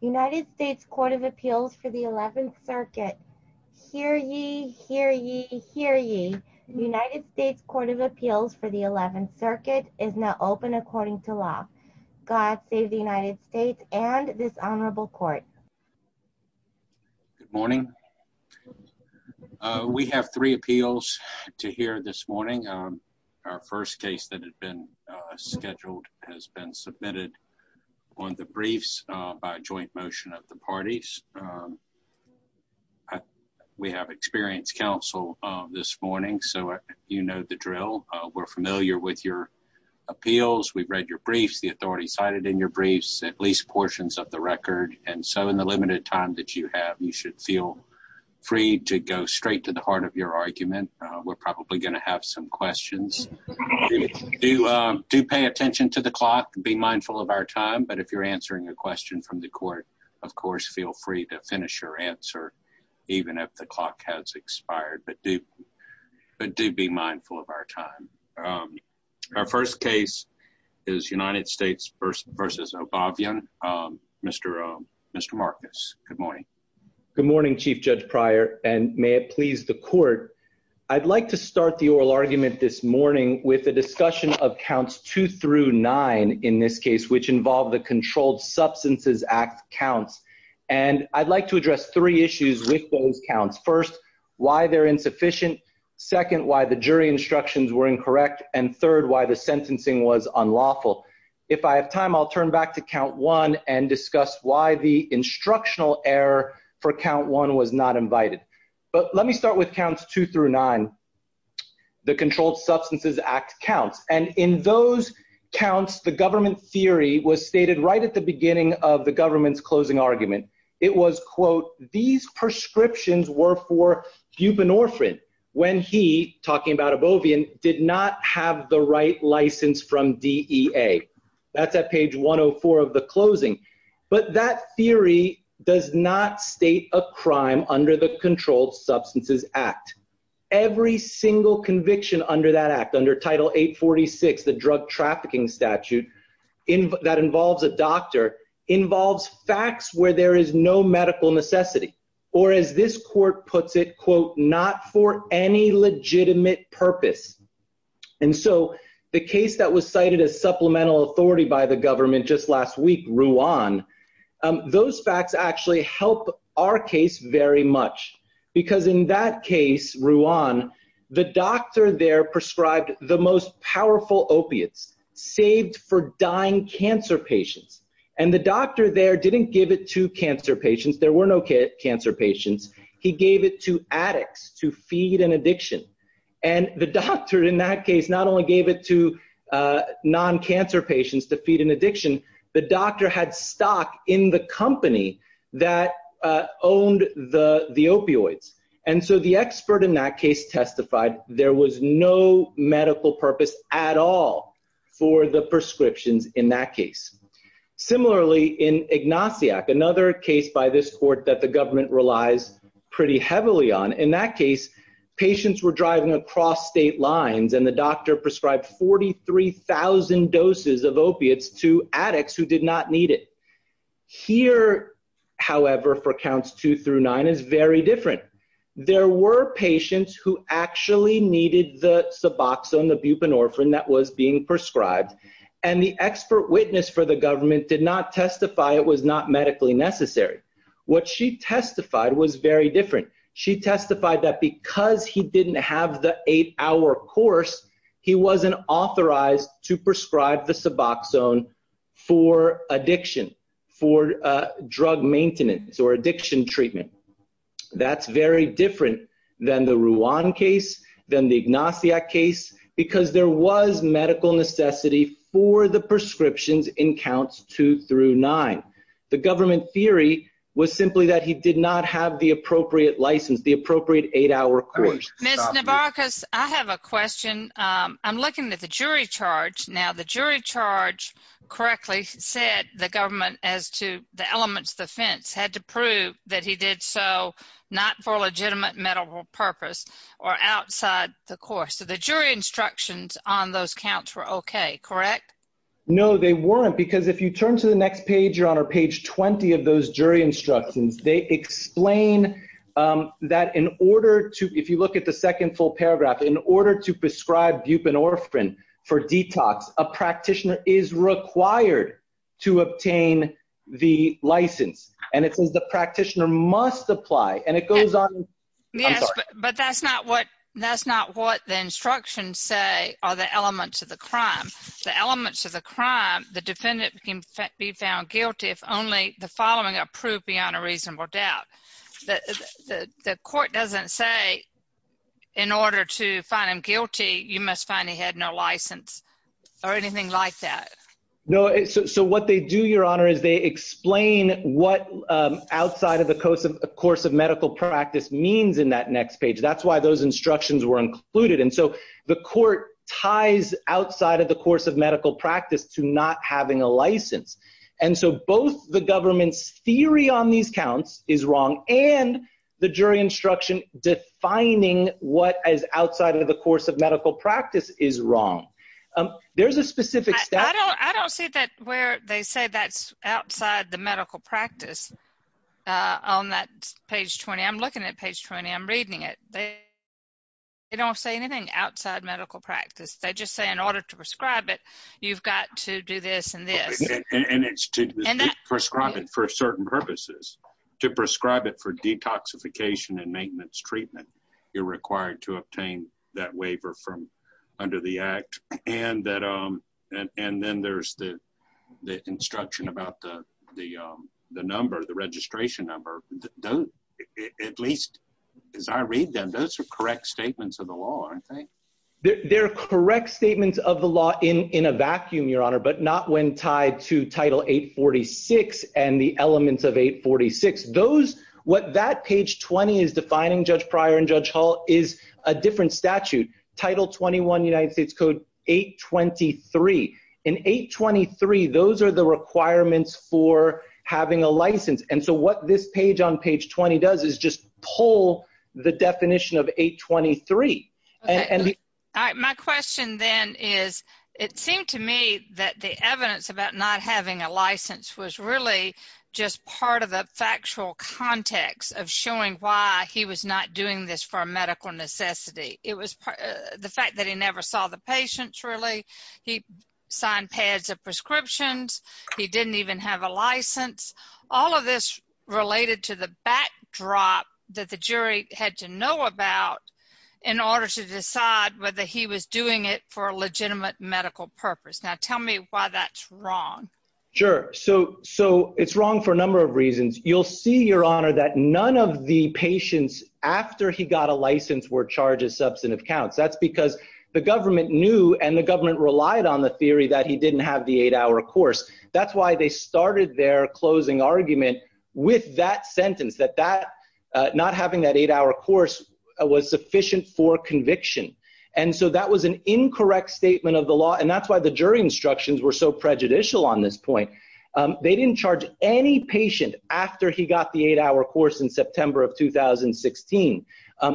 United States Court of Appeals for the 11th Circuit. Hear ye, hear ye, hear ye. United States Court of Appeals for the 11th Circuit is now open according to law. God save the United States and this honorable court. Good morning. We have three appeals to hear this morning. Our first case that had been scheduled has been submitted on the briefs by joint motion of the parties. We have experienced counsel this morning, so you know the drill. We're familiar with your appeals. We've read your briefs, the authority cited in your briefs, at least portions of the record. And so in the limited time that you have, you should feel free to go straight to the heart of your argument. We're probably going to have some questions. Do pay attention to the clock. Be mindful of our time. But if you're answering a question from the court, of course, feel free to finish your answer, even if the clock has expired. But do be mindful of our time. Our first case is United States v. Abovyan. Mr. Marcus, good morning. Good morning, Chief Judge Pryor, and may it please the oral argument this morning with the discussion of counts two through nine in this case, which involved the Controlled Substances Act counts. And I'd like to address three issues with those counts. First, why they're insufficient. Second, why the jury instructions were incorrect. And third, why the sentencing was unlawful. If I have time, I'll turn back to count one and discuss why the instructional error for count one was not invited. But let me start with counts two through nine, the Controlled Substances Act counts. And in those counts, the government theory was stated right at the beginning of the government's closing argument. It was, quote, these prescriptions were for buprenorphine when he, talking about Abovyan, did not have the right license from DEA. That's at page 104 of the closing. But that theory does not state a every single conviction under that act, under Title 846, the drug trafficking statute that involves a doctor, involves facts where there is no medical necessity, or as this court puts it, quote, not for any legitimate purpose. And so the case that was cited as supplemental authority by the government just last week, Ruan, those facts actually help our case very much. Because in that case, Ruan, the doctor there prescribed the most powerful opiates, saved for dying cancer patients. And the doctor there didn't give it to cancer patients, there were no cancer patients, he gave it to addicts to feed an addiction. And the doctor in that case, not only gave it to non cancer patients to feed an addiction, the doctor had stock in the company that owned the opioids. And so the expert in that case testified, there was no medical purpose at all for the prescriptions in that case. Similarly, in Ignasiak, another case by this court that the government relies pretty heavily on, in that case, patients were driving across state lines, and the doctor prescribed 43,000 doses of opiates to addicts who did not need it. Here, however, for counts two through nine is very different. There were patients who actually needed the suboxone, the buprenorphine that was being prescribed. And the expert witness for the government did not testify it was not medically necessary. What she testified was very different. She testified that because he didn't have the eight hour course, he wasn't authorized to prescribe the suboxone for addiction, for drug maintenance or addiction treatment. That's very different than the Ruan case than the Ignasiak case, because there was medical necessity for the prescriptions in counts two through nine. The government theory was simply that he did not have the appropriate license, the appropriate eight hour course. Miss jury charge. Now the jury charge correctly said the government as to the elements of the fence had to prove that he did so not for legitimate medical purpose or outside the course. So the jury instructions on those counts were okay, correct? No, they weren't. Because if you turn to the next page, your honor, page 20 of those jury instructions, they explain that in order to, if you look at the second full paragraph, in order to prescribe buprenorphine for detox, a practitioner is required to obtain the license. And it says the practitioner must apply and it goes on. Yes, but that's not what that's not what the instructions say are the elements of the crime. The elements of the crime, the defendant can be found guilty if only the following are proved beyond a reasonable doubt. The court doesn't say in order to find him found he had no license or anything like that. No. So what they do, your honor, is they explain what outside of the coast of course of medical practice means in that next page. That's why those instructions were included. And so the court ties outside of the course of medical practice to not having a license. And so both the government's theory on these counts is wrong and the jury instruction defining what is outside of the course of medical practice is wrong. There's a specific step. I don't see that where they say that's outside the medical practice on that page 20. I'm looking at page 20. I'm reading it. They don't say anything outside medical practice. They just say in order to prescribe it, you've got to do this and this. And it's to prescribe it for certain purposes. To prescribe it for detoxification and maintenance treatment, you're required to obtain that waiver from under the Act. And then there's the instruction about the number, the registration number. At least as I read them, those are correct statements of the law, I think. They're correct statements of the law in a vacuum, your honor, but not when it's 846 and the elements of 846. What that page 20 is defining, Judge Pryor and Judge Hall, is a different statute. Title 21 United States Code 823. In 823, those are the requirements for having a license. And so what this page on page 20 does is just pull the definition of 823. My question then is, it seemed to me that the evidence about not having a license was really just part of the factual context of showing why he was not doing this for a medical necessity. It was the fact that he never saw the patients really. He signed pads of prescriptions. He didn't even have a license. All of this related to the backdrop that the jury had to know about in order to decide whether he was doing it for a legitimate medical purpose. Now tell me why that's wrong. Sure. So it's wrong for a number of reasons. You'll see, your honor, that none of the patients after he got a license were charged as substantive counts. That's because the government knew and the government relied on the theory that he didn't have the eight-hour course. That's why they started their closing argument with that sentence, that not having that eight-hour course was sufficient for conviction. And so that was an incorrect statement of the law and that's why the jury instructions were so prejudicial on this point. They didn't charge any patient after he got the eight-hour course in September of 2016.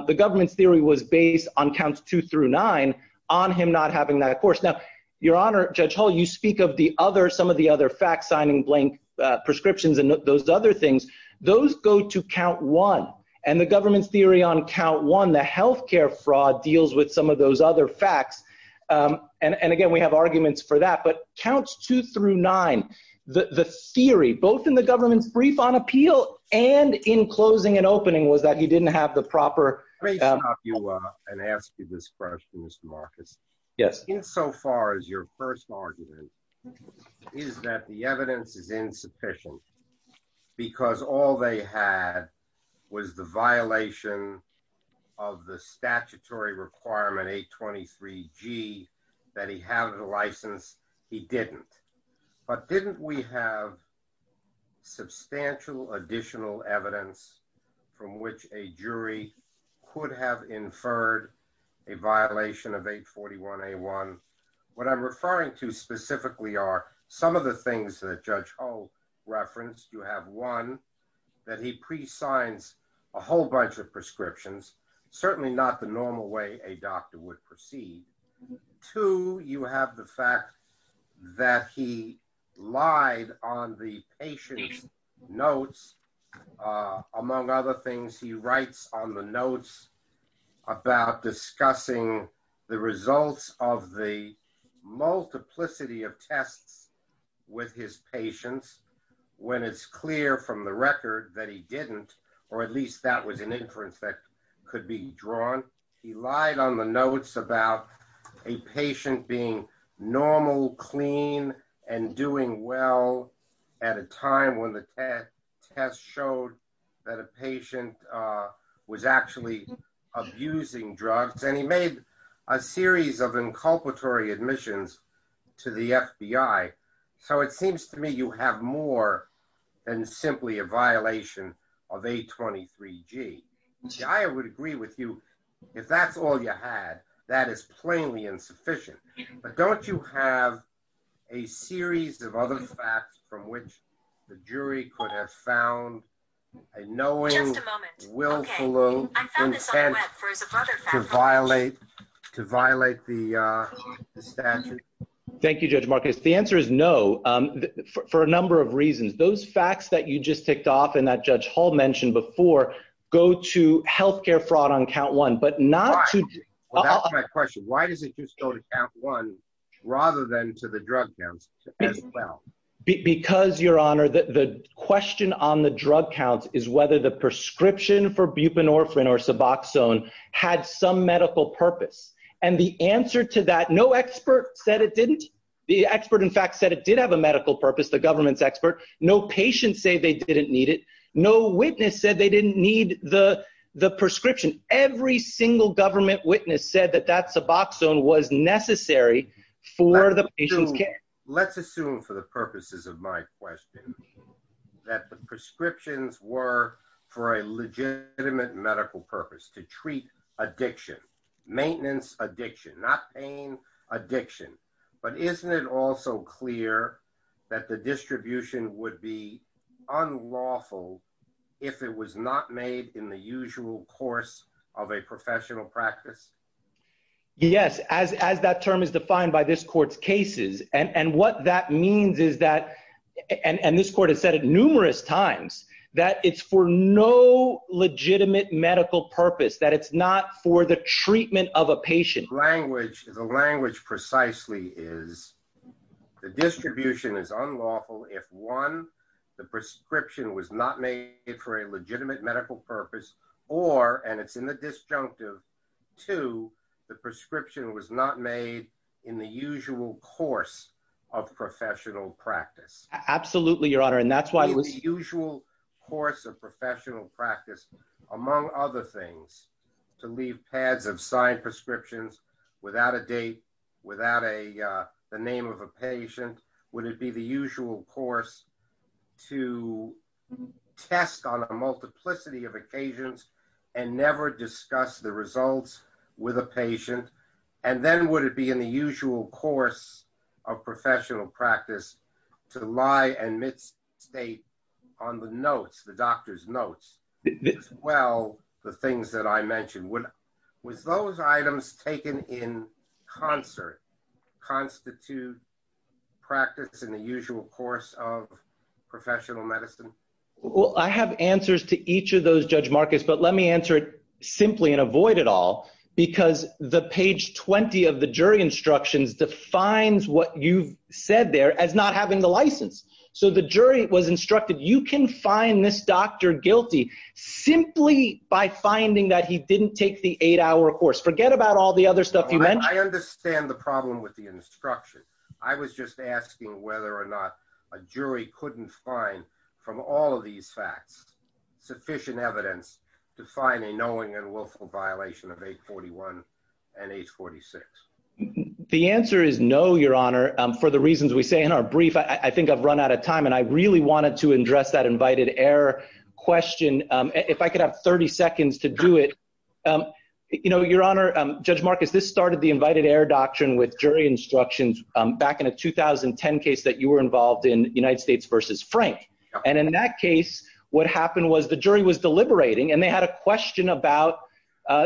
The government's theory was based on counts two through nine on him not having that course. Now, your honor, Judge Hall, you speak of the other, some of the other facts, signing blank prescriptions and those other things. Those go to count one. The health care fraud deals with some of those other facts. And again, we have arguments for that. But counts two through nine, the theory, both in the government's brief on appeal and in closing and opening, was that he didn't have the proper... Let me stop you and ask you this question, Mr. Marcus. Yes. Insofar as your first argument is that the evidence is insufficient because all they had was the violation of the statutory requirement, 823G, that he have the license, he didn't. But didn't we have substantial additional evidence from which a jury could have inferred a violation of 841A1? What I'm referring to specifically are some of the things that Judge Hall referenced. You have one, that he presigns a whole bunch of prescriptions, certainly not the normal way a doctor would proceed. Two, you have the fact that he lied on the patient's notes. Among other things, he writes on the notes about discussing the results of the multiplicity of tests with his patients when it's clear from the record that he didn't, or at least that was an inference that could be drawn. He lied on the notes about a patient being normal, clean, and doing well at a time when the test showed that a patient was actually abusing drugs. And he made a series of inculpatory admissions to the FBI. So it seems to me you have more than simply a violation of 823G. I would agree with you, if that's all you had, that is plainly insufficient. But don't you have a series of other facts from which the jury could have found a knowing, willful intent to violate the statute? Thank you, Judge Marcus. The answer is no, for a number of reasons. Those facts that you just ticked off, and that Judge Hall mentioned before, go to health care fraud on count one, but not to... Well, that's my question. Why does it just go to count one, rather than to the drug counts as well? Because, Your Honor, the question on the drug counts is whether the prescription for buprenorphine or suboxone had some medical purpose. And the answer to that, no expert said it didn't. The expert, in fact, said it did have a medical purpose, the government's expert. No patient say they didn't need it. No witness said they didn't need the prescription. Every single government witness said that that suboxone was necessary for the patient's care. Let's assume, for the purposes of my question, that the prescriptions were for a legitimate medical purpose, to treat addiction, maintenance addiction, not pain addiction. But isn't it also clear that the distribution would be unlawful if it was not made in the usual course of a professional practice? Yes, as that term is defined by this court's cases. And what that means is that, and this court has said it numerous times, that it's for no legitimate medical purpose, that it's not for the treatment of a patient. Language, the language precisely is the distribution is unlawful if, one, the prescription was not made for a legitimate medical purpose, or, and it's in the disjunctive, two, the prescription was not made in the usual course of professional practice. Absolutely, Your Honor, and that's why... The usual course of professional practice, among other things, to leave pads of signed prescriptions without a date, without the name of a patient, would it be the usual course to test on a multiplicity of occasions and never discuss the results with a patient? And then would it be in the usual course of professional practice to lie and misstate on the notes, the doctor's notes, as well the things that I mentioned? Was those items taken in concert, constitute practice in the usual course of professional medicine? Well, I have answers to each of those, Judge Marcus, but let me answer it simply and avoid it all, because the page 20 of the jury instructions defines what you've said there as not having the license. So the jury was instructed, you can find this doctor guilty simply by finding that he didn't take the eight hour course. Forget about all the other stuff you mentioned. I understand the problem with the instruction. I was just asking whether or not a jury couldn't find, from all of these facts, sufficient evidence to find a knowing and willful violation of 841 and 841. I think I've run out of time and I really wanted to address that invited error question. If I could have 30 seconds to do it. Your Honor, Judge Marcus, this started the invited error doctrine with jury instructions back in a 2010 case that you were involved in, United States versus Frank. And in that case, what happened was the jury was deliberating and they had a question about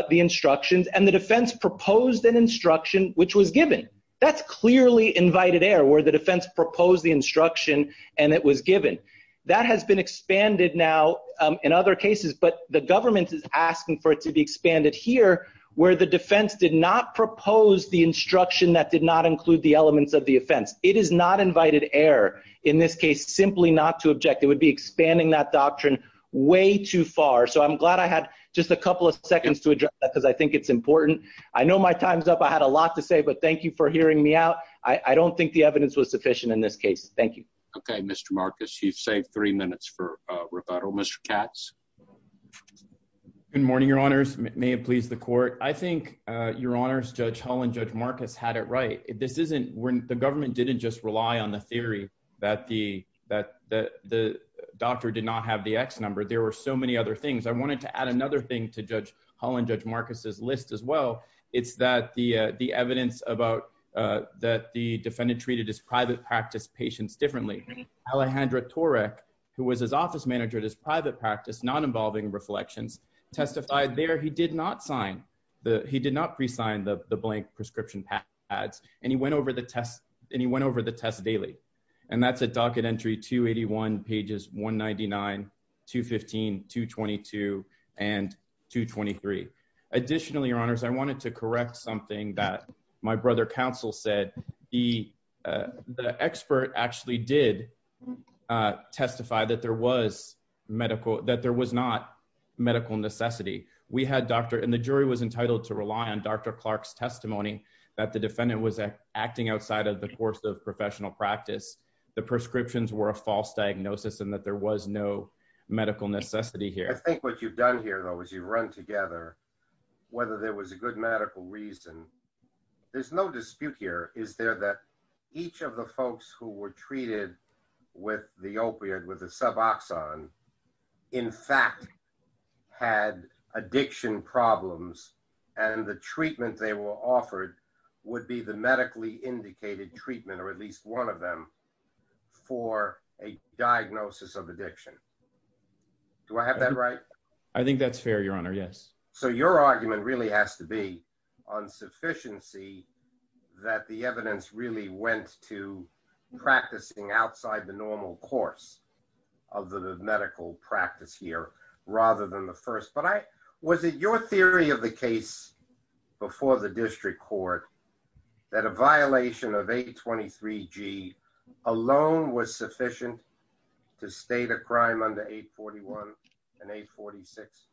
the instructions and the defense proposed an instruction which was given. That's clearly invited error where the defense proposed the instruction and it was given. That has been expanded now in other cases, but the government is asking for it to be expanded here where the defense did not propose the instruction that did not include the elements of the offense. It is not invited error in this case, simply not to object. It would be expanding that doctrine way too far. So I'm glad I had just a couple of seconds to address that because I think it's important. I know my time's up. I had a lot to say, but thank you for hearing me out. I don't think the evidence was sufficient in this case. Thank you. Okay, Mr. Marcus, you've saved three minutes for rebuttal. Mr. Katz. Good morning, Your Honors. May it please the court. I think, Your Honors, Judge Hull and Judge Marcus had it right. This isn't when the government didn't just rely on the theory that the doctor did not have the X number. There were so many other things. I wanted to add another thing to Judge Hull and Judge Marcus's list as well. It's that the evidence about that the defendant treated his private practice patients differently. Alejandra Torek, who was his office manager at his private practice, not involving reflections, testified there he did not sign... He did not presign the blank prescription pads, and he went over the test daily. And that's at docket entry 281, pages 199, 215, 222, and 223. Additionally, Your Honors, I wanted to correct something that my brother counsel said. The expert actually did testify that there was medical... That there was not medical necessity. We had doctor... And the jury was entitled to rely on Dr. Clark's testimony that the defendant was acting outside of the course of professional practice. The prescriptions were a false diagnosis and that there was no medical necessity here. I think what you've done here, though, is you've run together, whether there was a good medical reason. There's no dispute here. Is there that each of the folks who were treated with the opiate, with the suboxone, in fact, had addiction problems, and the treatment they were offered would be the medically indicated treatment, or at least one of them, for a diagnosis of addiction? Do I have that right? I think that's fair, Your Honor, yes. So your argument really has to be on sufficiency that the evidence really went to practicing outside the normal course of the medical practice here, rather than the first. But I... Your theory of the case before the district court, that a violation of 823 G alone was sufficient to state a crime under 841 and 846?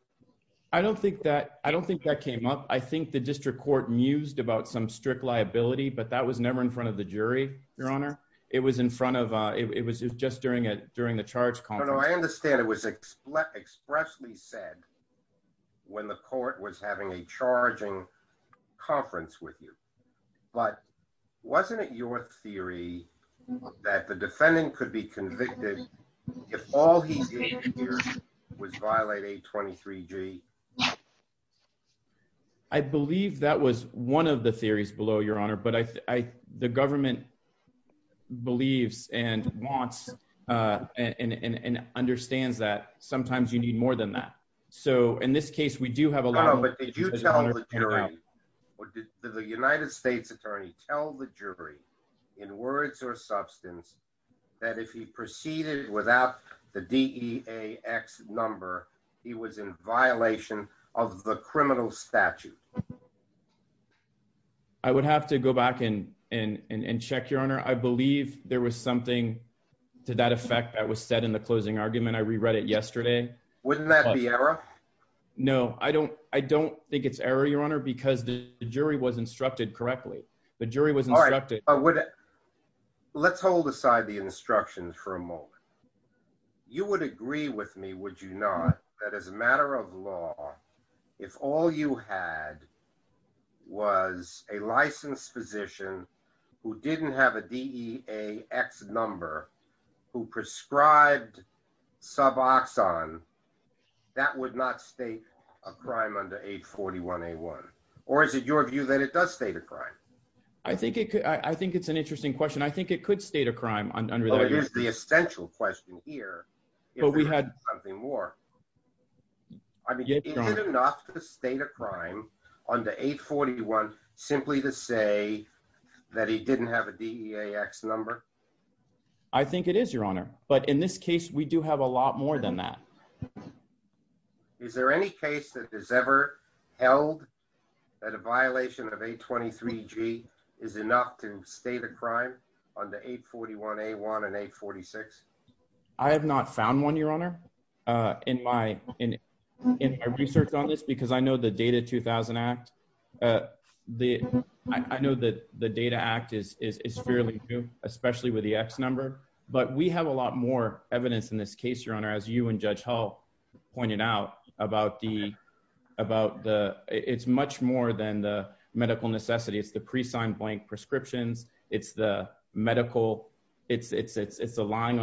I don't think that... I don't think that came up. I think the district court mused about some strict liability, but that was never in front of the jury, Your Honor. It was in front of... It was just during the charge conference. No, no, I understand it was expressly said when the court was having a charging conference with you, but wasn't it your theory that the defendant could be convicted if all he did here was violate 823 G? Yes. I believe that was one of the theories below, Your Honor, but the government believes and wants and understands that sometimes you need more than that. So in this case, we do have a lot... No, no, but did you tell the jury, or did the United States attorney tell the jury, in words or substance, that if he proceeded without the DEAX number, he was in violation of the criminal statute? I would have to go back and check, Your Honor. I believe there was something to that effect that was said in the closing argument. I reread it yesterday. Wouldn't that be error? No, I don't think it's error, Your Honor, because the jury was instructed correctly. The jury was instructed... Alright. Let's hold aside the instructions for a moment. You would agree with me, would you not, that as a matter of fact, if the defendant was a licensed physician who didn't have a DEAX number, who prescribed suboxone, that would not state a crime under 841 A1? Or is it your view that it does state a crime? I think it's an interesting question. I think it could state a crime under that. Well, here's the essential question here. But we had... I mean, is it enough to state a crime under 841 simply to say that he didn't have a DEAX number? I think it is, Your Honor. But in this case, we do have a lot more than that. Is there any case that is ever held that a violation of 823 G is enough to state a crime under 841 A1 and 846? I have not found one, Your Honor, in my research on this because I know the Data 2000 Act... I know that the Data Act is fairly new, especially with the AX number. But we have a lot more evidence in this case, Your Honor, as you and Judge Hull pointed out about the... It's much more than the medical necessity. It's the pre and the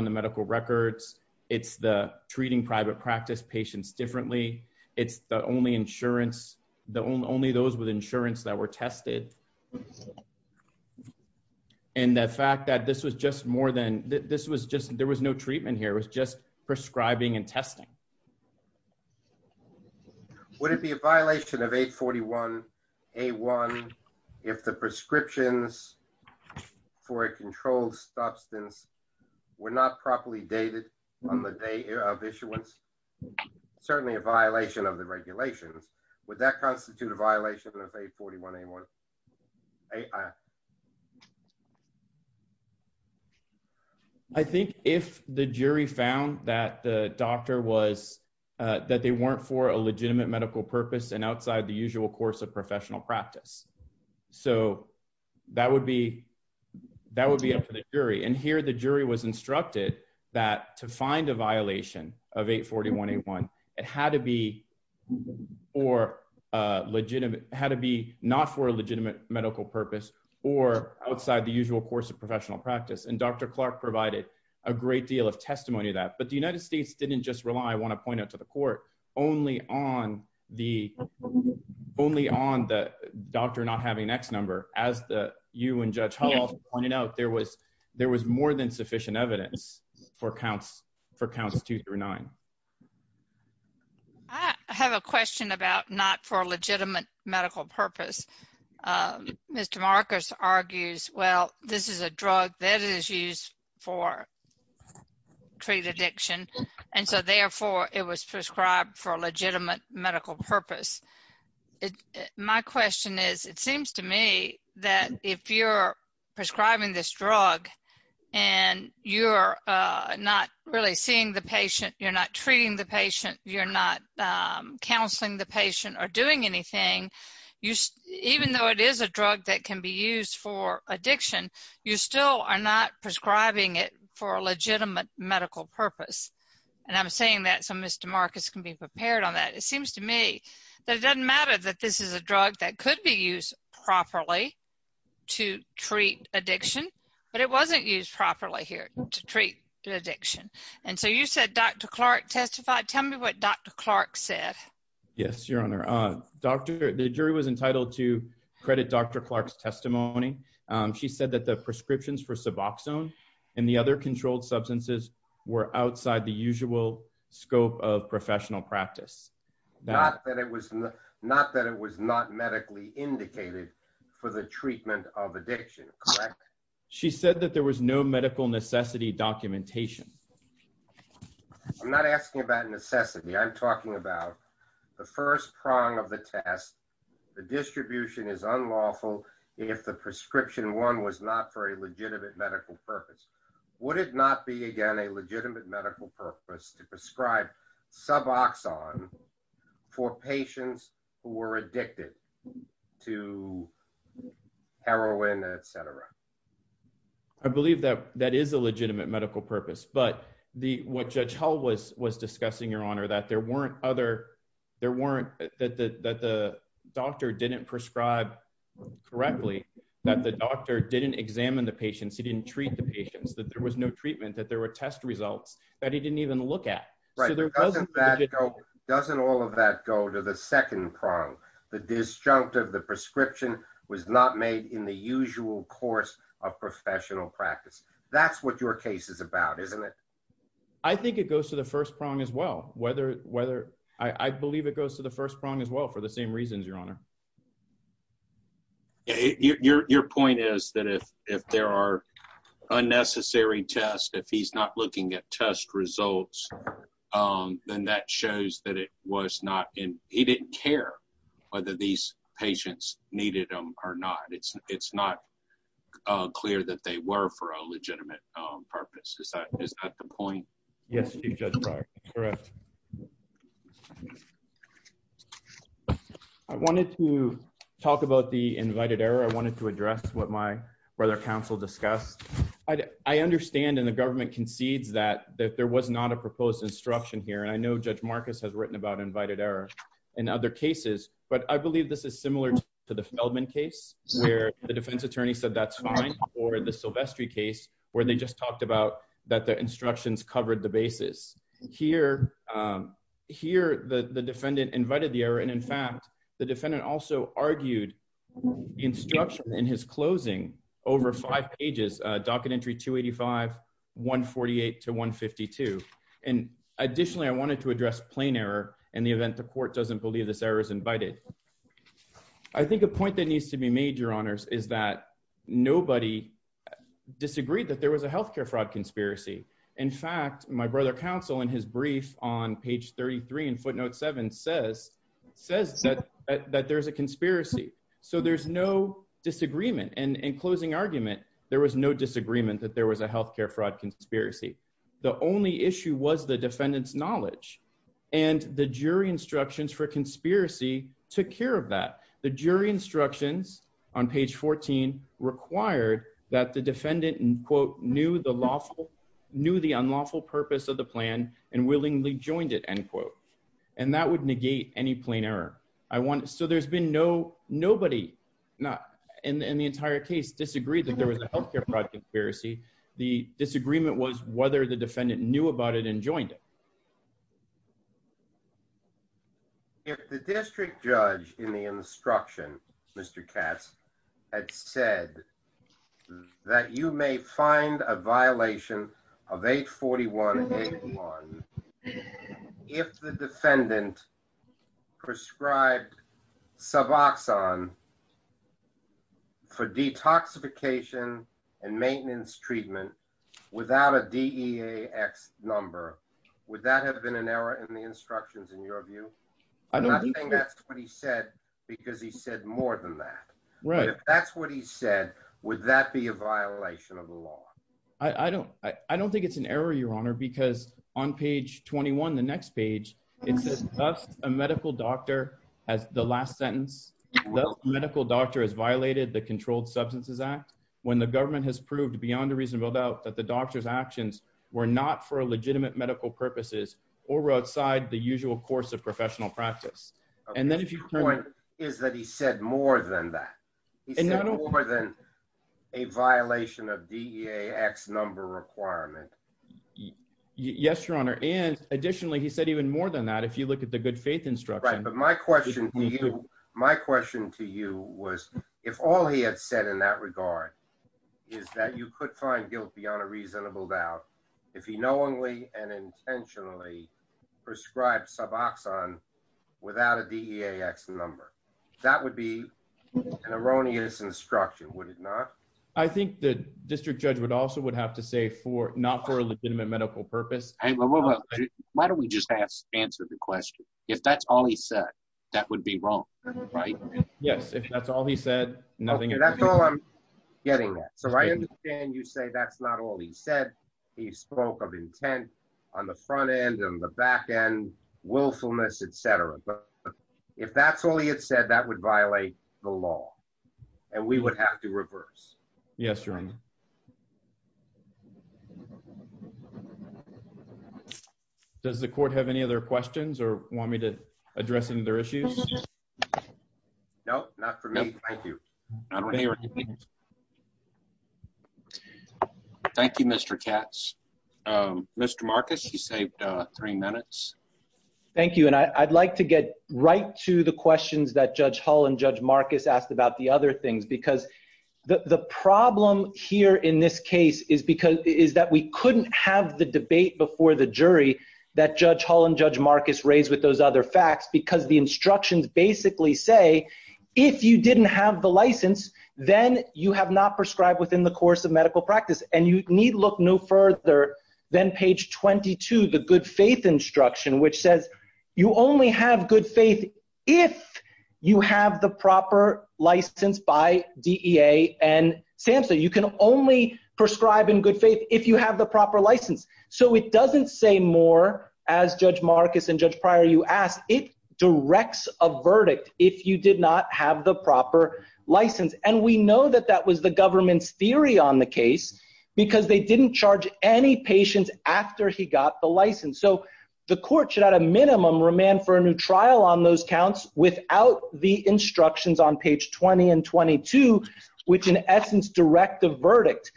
medical records. It's the treating private practice patients differently. It's the only insurance... Only those with insurance that were tested. And the fact that this was just more than... This was just... There was no treatment here. It was just prescribing and testing. Would it be a violation of 841 A1 if the doctor was not properly dated on the day of issuance? Certainly a violation of the regulations. Would that constitute a violation of 841 A1? I think if the jury found that the doctor was... That they weren't for a legitimate medical purpose and outside the usual course of professional practice. So that would be up to the jury. And here, the jury was instructed that to find a violation of 841 A1, it had to be for a legitimate... Had to be not for a legitimate medical purpose or outside the usual course of professional practice. And Dr. Clark provided a great deal of testimony to that. But the United States didn't just rely, I wanna point out to the court, only on the doctor not having an AX number. As you and Judge Clark said, there was more than sufficient evidence for counts two through nine. I have a question about not for a legitimate medical purpose. Mr. Marcus argues, well, this is a drug that is used for treat addiction, and so therefore, it was prescribed for a legitimate medical purpose. My question is, it seems to me that if you're prescribing this drug and you're not really seeing the patient, you're not treating the patient, you're not counseling the patient or doing anything, even though it is a drug that can be used for addiction, you still are not prescribing it for a legitimate medical purpose. And I'm saying that so Mr. Marcus can be prepared on that. It seems to me that it doesn't matter that this is a drug that could be used properly to treat addiction, but it wasn't used properly here to treat addiction. And so you said Dr. Clark testified. Tell me what Dr. Clark said. Yes, Your Honor. The jury was entitled to credit Dr. Clark's testimony. She said that the prescriptions for Suboxone and the other controlled substances were outside the usual scope of professional practice. Not that it was not medically indicated for the treatment of addiction, correct? She said that there was no medical necessity documentation. I'm not asking about necessity. I'm talking about the first prong of the test. The distribution is unlawful if the prescription one was not for a legitimate medical purpose. Would it not be, again, a legitimate medical purpose to prescribe Suboxone for patients who were addicted to heroin, et cetera? I believe that that is a legitimate medical purpose. But what Judge Hull was discussing, Your Honor, that there weren't other... That the doctor didn't prescribe correctly, that the doctor didn't examine the patients, he didn't treat the patients, that there was no treatment, that there were test results that he didn't even look at. Right. Doesn't all of that go to the second prong? The disjunct of the prescription was not made in the usual course of professional practice. That's what your case is about, isn't it? I think it goes to the first prong as well. I believe it goes to the first prong as well for the same reasons, Your Honor. Your point is that if there are unnecessary tests, if he's not looking at test results, then that shows that it was not... He didn't care whether these patients needed them or not. It's not clear that they were for a legitimate purpose. Is that the point? Yes, Chief Judge Breyer. Correct. I wanted to talk about the invited error. I wanted to address what my brother counsel discussed. I understand and the government concedes that there was not a proposed instruction here. And I know Judge Marcus has written about invited error in other cases, but I believe this is similar to the Feldman case where the defense attorney said, that's fine, or the Silvestri case where they just talked about that the instructions covered the basis. Here, the defendant invited the error, and in fact, the defendant also argued the instruction in his closing over five pages, docket entry 285, 148 to 152. And additionally, I wanted to address plain error in the event the court doesn't believe this error is invited. I think a point that needs to be made, Your Honors, is that nobody disagreed that there was a healthcare fraud conspiracy. In fact, my brother counsel in his brief on page 33 in footnote seven says that there's a conspiracy. So there's no disagreement. And in closing argument, there was no disagreement that there was a healthcare fraud conspiracy. The only issue was the defendant's knowledge, and the jury instructions for conspiracy took care of that. The jury instructions on page 14 required that the defendant, and quote, knew the unlawful purpose of the plan and willingly joined it, end quote. And that would negate any plain error. So there's been no... Nobody in the entire case disagreed that there was a healthcare fraud conspiracy. The disagreement was whether the defendant knew about it and joined it. If the district judge in the instruction, Mr. Katz, had said that you may find a violation of 841.81, if the defendant prescribed suboxone for detoxification and maintenance treatment without a DEAX number, would that have been an error in the instructions, in your view? I'm not saying that's what he said, because he said more than that. Right. But if that's what he said, would that be a violation of the law? I don't think it's an error, Your Honor, because on page 21, the next page, it says, Thus, a medical doctor has... The last sentence, Thus, a medical doctor has violated the Controlled Substances Act when the government has proved beyond a reasonable doubt that the doctor's actions were not for legitimate medical purposes or were outside the usual course of professional practice. And then if you... Okay, your point is that he said more than that. He said more than a violation of DEAX number requirement. Yes, Your Honor. And additionally, he said even more than that, if you look at the good faith instruction. Right, but my question to you was, if all he had said in that regard is that you could find guilt beyond a reasonable doubt if he knowingly and intentionally prescribed suboxone without a DEAX number. That would be an erroneous instruction, would it not? I think the district judge would also would have to say for... Not for a legitimate medical purpose. Why don't we just answer the question? If that's all he said, that would be wrong, right? Yes, if that's all he said, nothing... Okay, that's all I'm getting at. So I understand you say that's not all he said. He spoke of intent on the front end and the back end, willfulness, et cetera. But if that's all he had said, that would violate the law, and we would have to reverse. Yes, Your Honor. Does the court have any other questions or want me to address any other issues? No, not for me. Thank you. Thank you, Mr. Katz. Mr. Marcus, you saved three minutes. Thank you. And I'd like to get right to the questions that Judge Hull and Judge Marcus asked about the other things, because the problem here in this case is that we couldn't have the debate before the jury that Judge Hull and Judge Marcus raised with those other facts, because the instructions basically say, if you didn't have the license, then you have not prescribed within the course of medical practice. And you need look no further than page 22, the good faith instruction, which says, you only have good faith if you have the proper license by DEA and SAMHSA. You can only prescribe in good faith if you have the proper license. So it doesn't say more, as Judge Marcus and Judge Pryor, you asked, it directs a verdict if you did not have the proper license. And we know that that was the government's decision. And we know that Judge Hull and Judge Marcus did not play into any patients after he got the license. So the court should at a minimum remand for a new trial on those counts without the instructions on page 20 and 22, which in essence direct the verdict.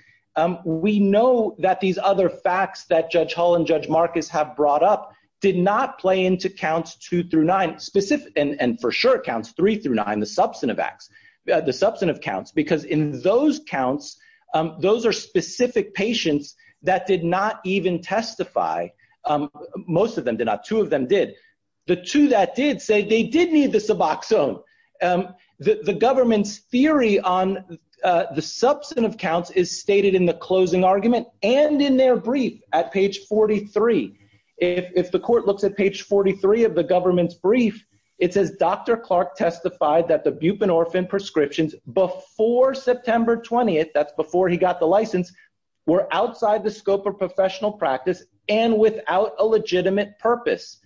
We know that these other facts that Judge Hull and Judge Marcus have brought up did not play into counts two through nine, and for sure counts three through nine, the substantive acts, the substantive counts, because in those counts, those are specific patients that did not even testify. Most of them did not, two of them did. The two that did say they did need the suboxone. The government's theory on the substantive counts is stated in the closing argument and in their brief at page 43. If the court looks at page 43 of the government's brief, it says, Dr. Clark testified that the buprenorphine prescriptions before September 20th, that's before he got the license, were outside the scope of professional practice and without a legitimate purpose.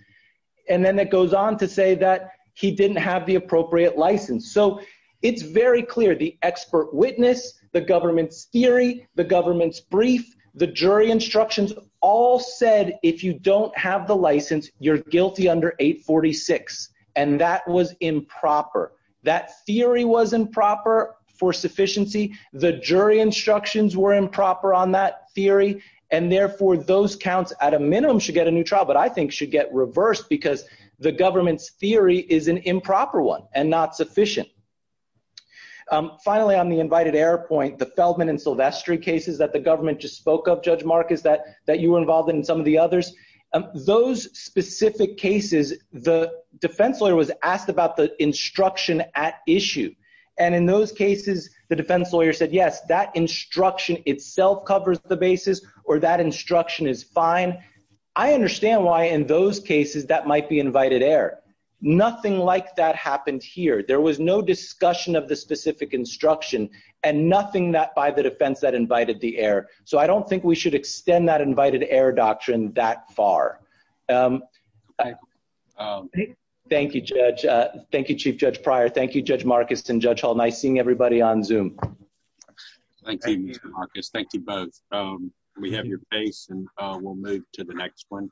And then it goes on to say that he didn't have the appropriate license. So it's very clear, the expert witness, the government's theory, the government's brief, the jury instructions all said, if you don't have the license, you're guilty under 846. And that was improper. That theory was improper for sufficiency. The jury instructions were improper on that theory, and therefore those counts at a minimum should get a new trial, but I think should get reversed because the government's theory is an improper one and not sufficient. Finally, on the invited error point, the Feldman and Silvestri cases that the government just spoke of, Judge Marcus, that you were involved in and some of the others, those specific cases, the defense lawyer was asked about the instruction at issue. And in those cases, the defense lawyer said, yes, that instruction itself covers the basis or that instruction is fine. I understand why in those cases that might be invited error. Nothing like that happened here. There was no discussion of the specific instruction and nothing by the defense that invited the error. So I don't think we should extend that invited error doctrine that far. Thank you, Judge. Thank you, Chief Judge Pryor. Thank you, Judge Marcus and Judge Hall. Nice seeing everybody on Zoom. Thank you, Mr. Marcus. Thank you both. We have your face and we'll move to the next one.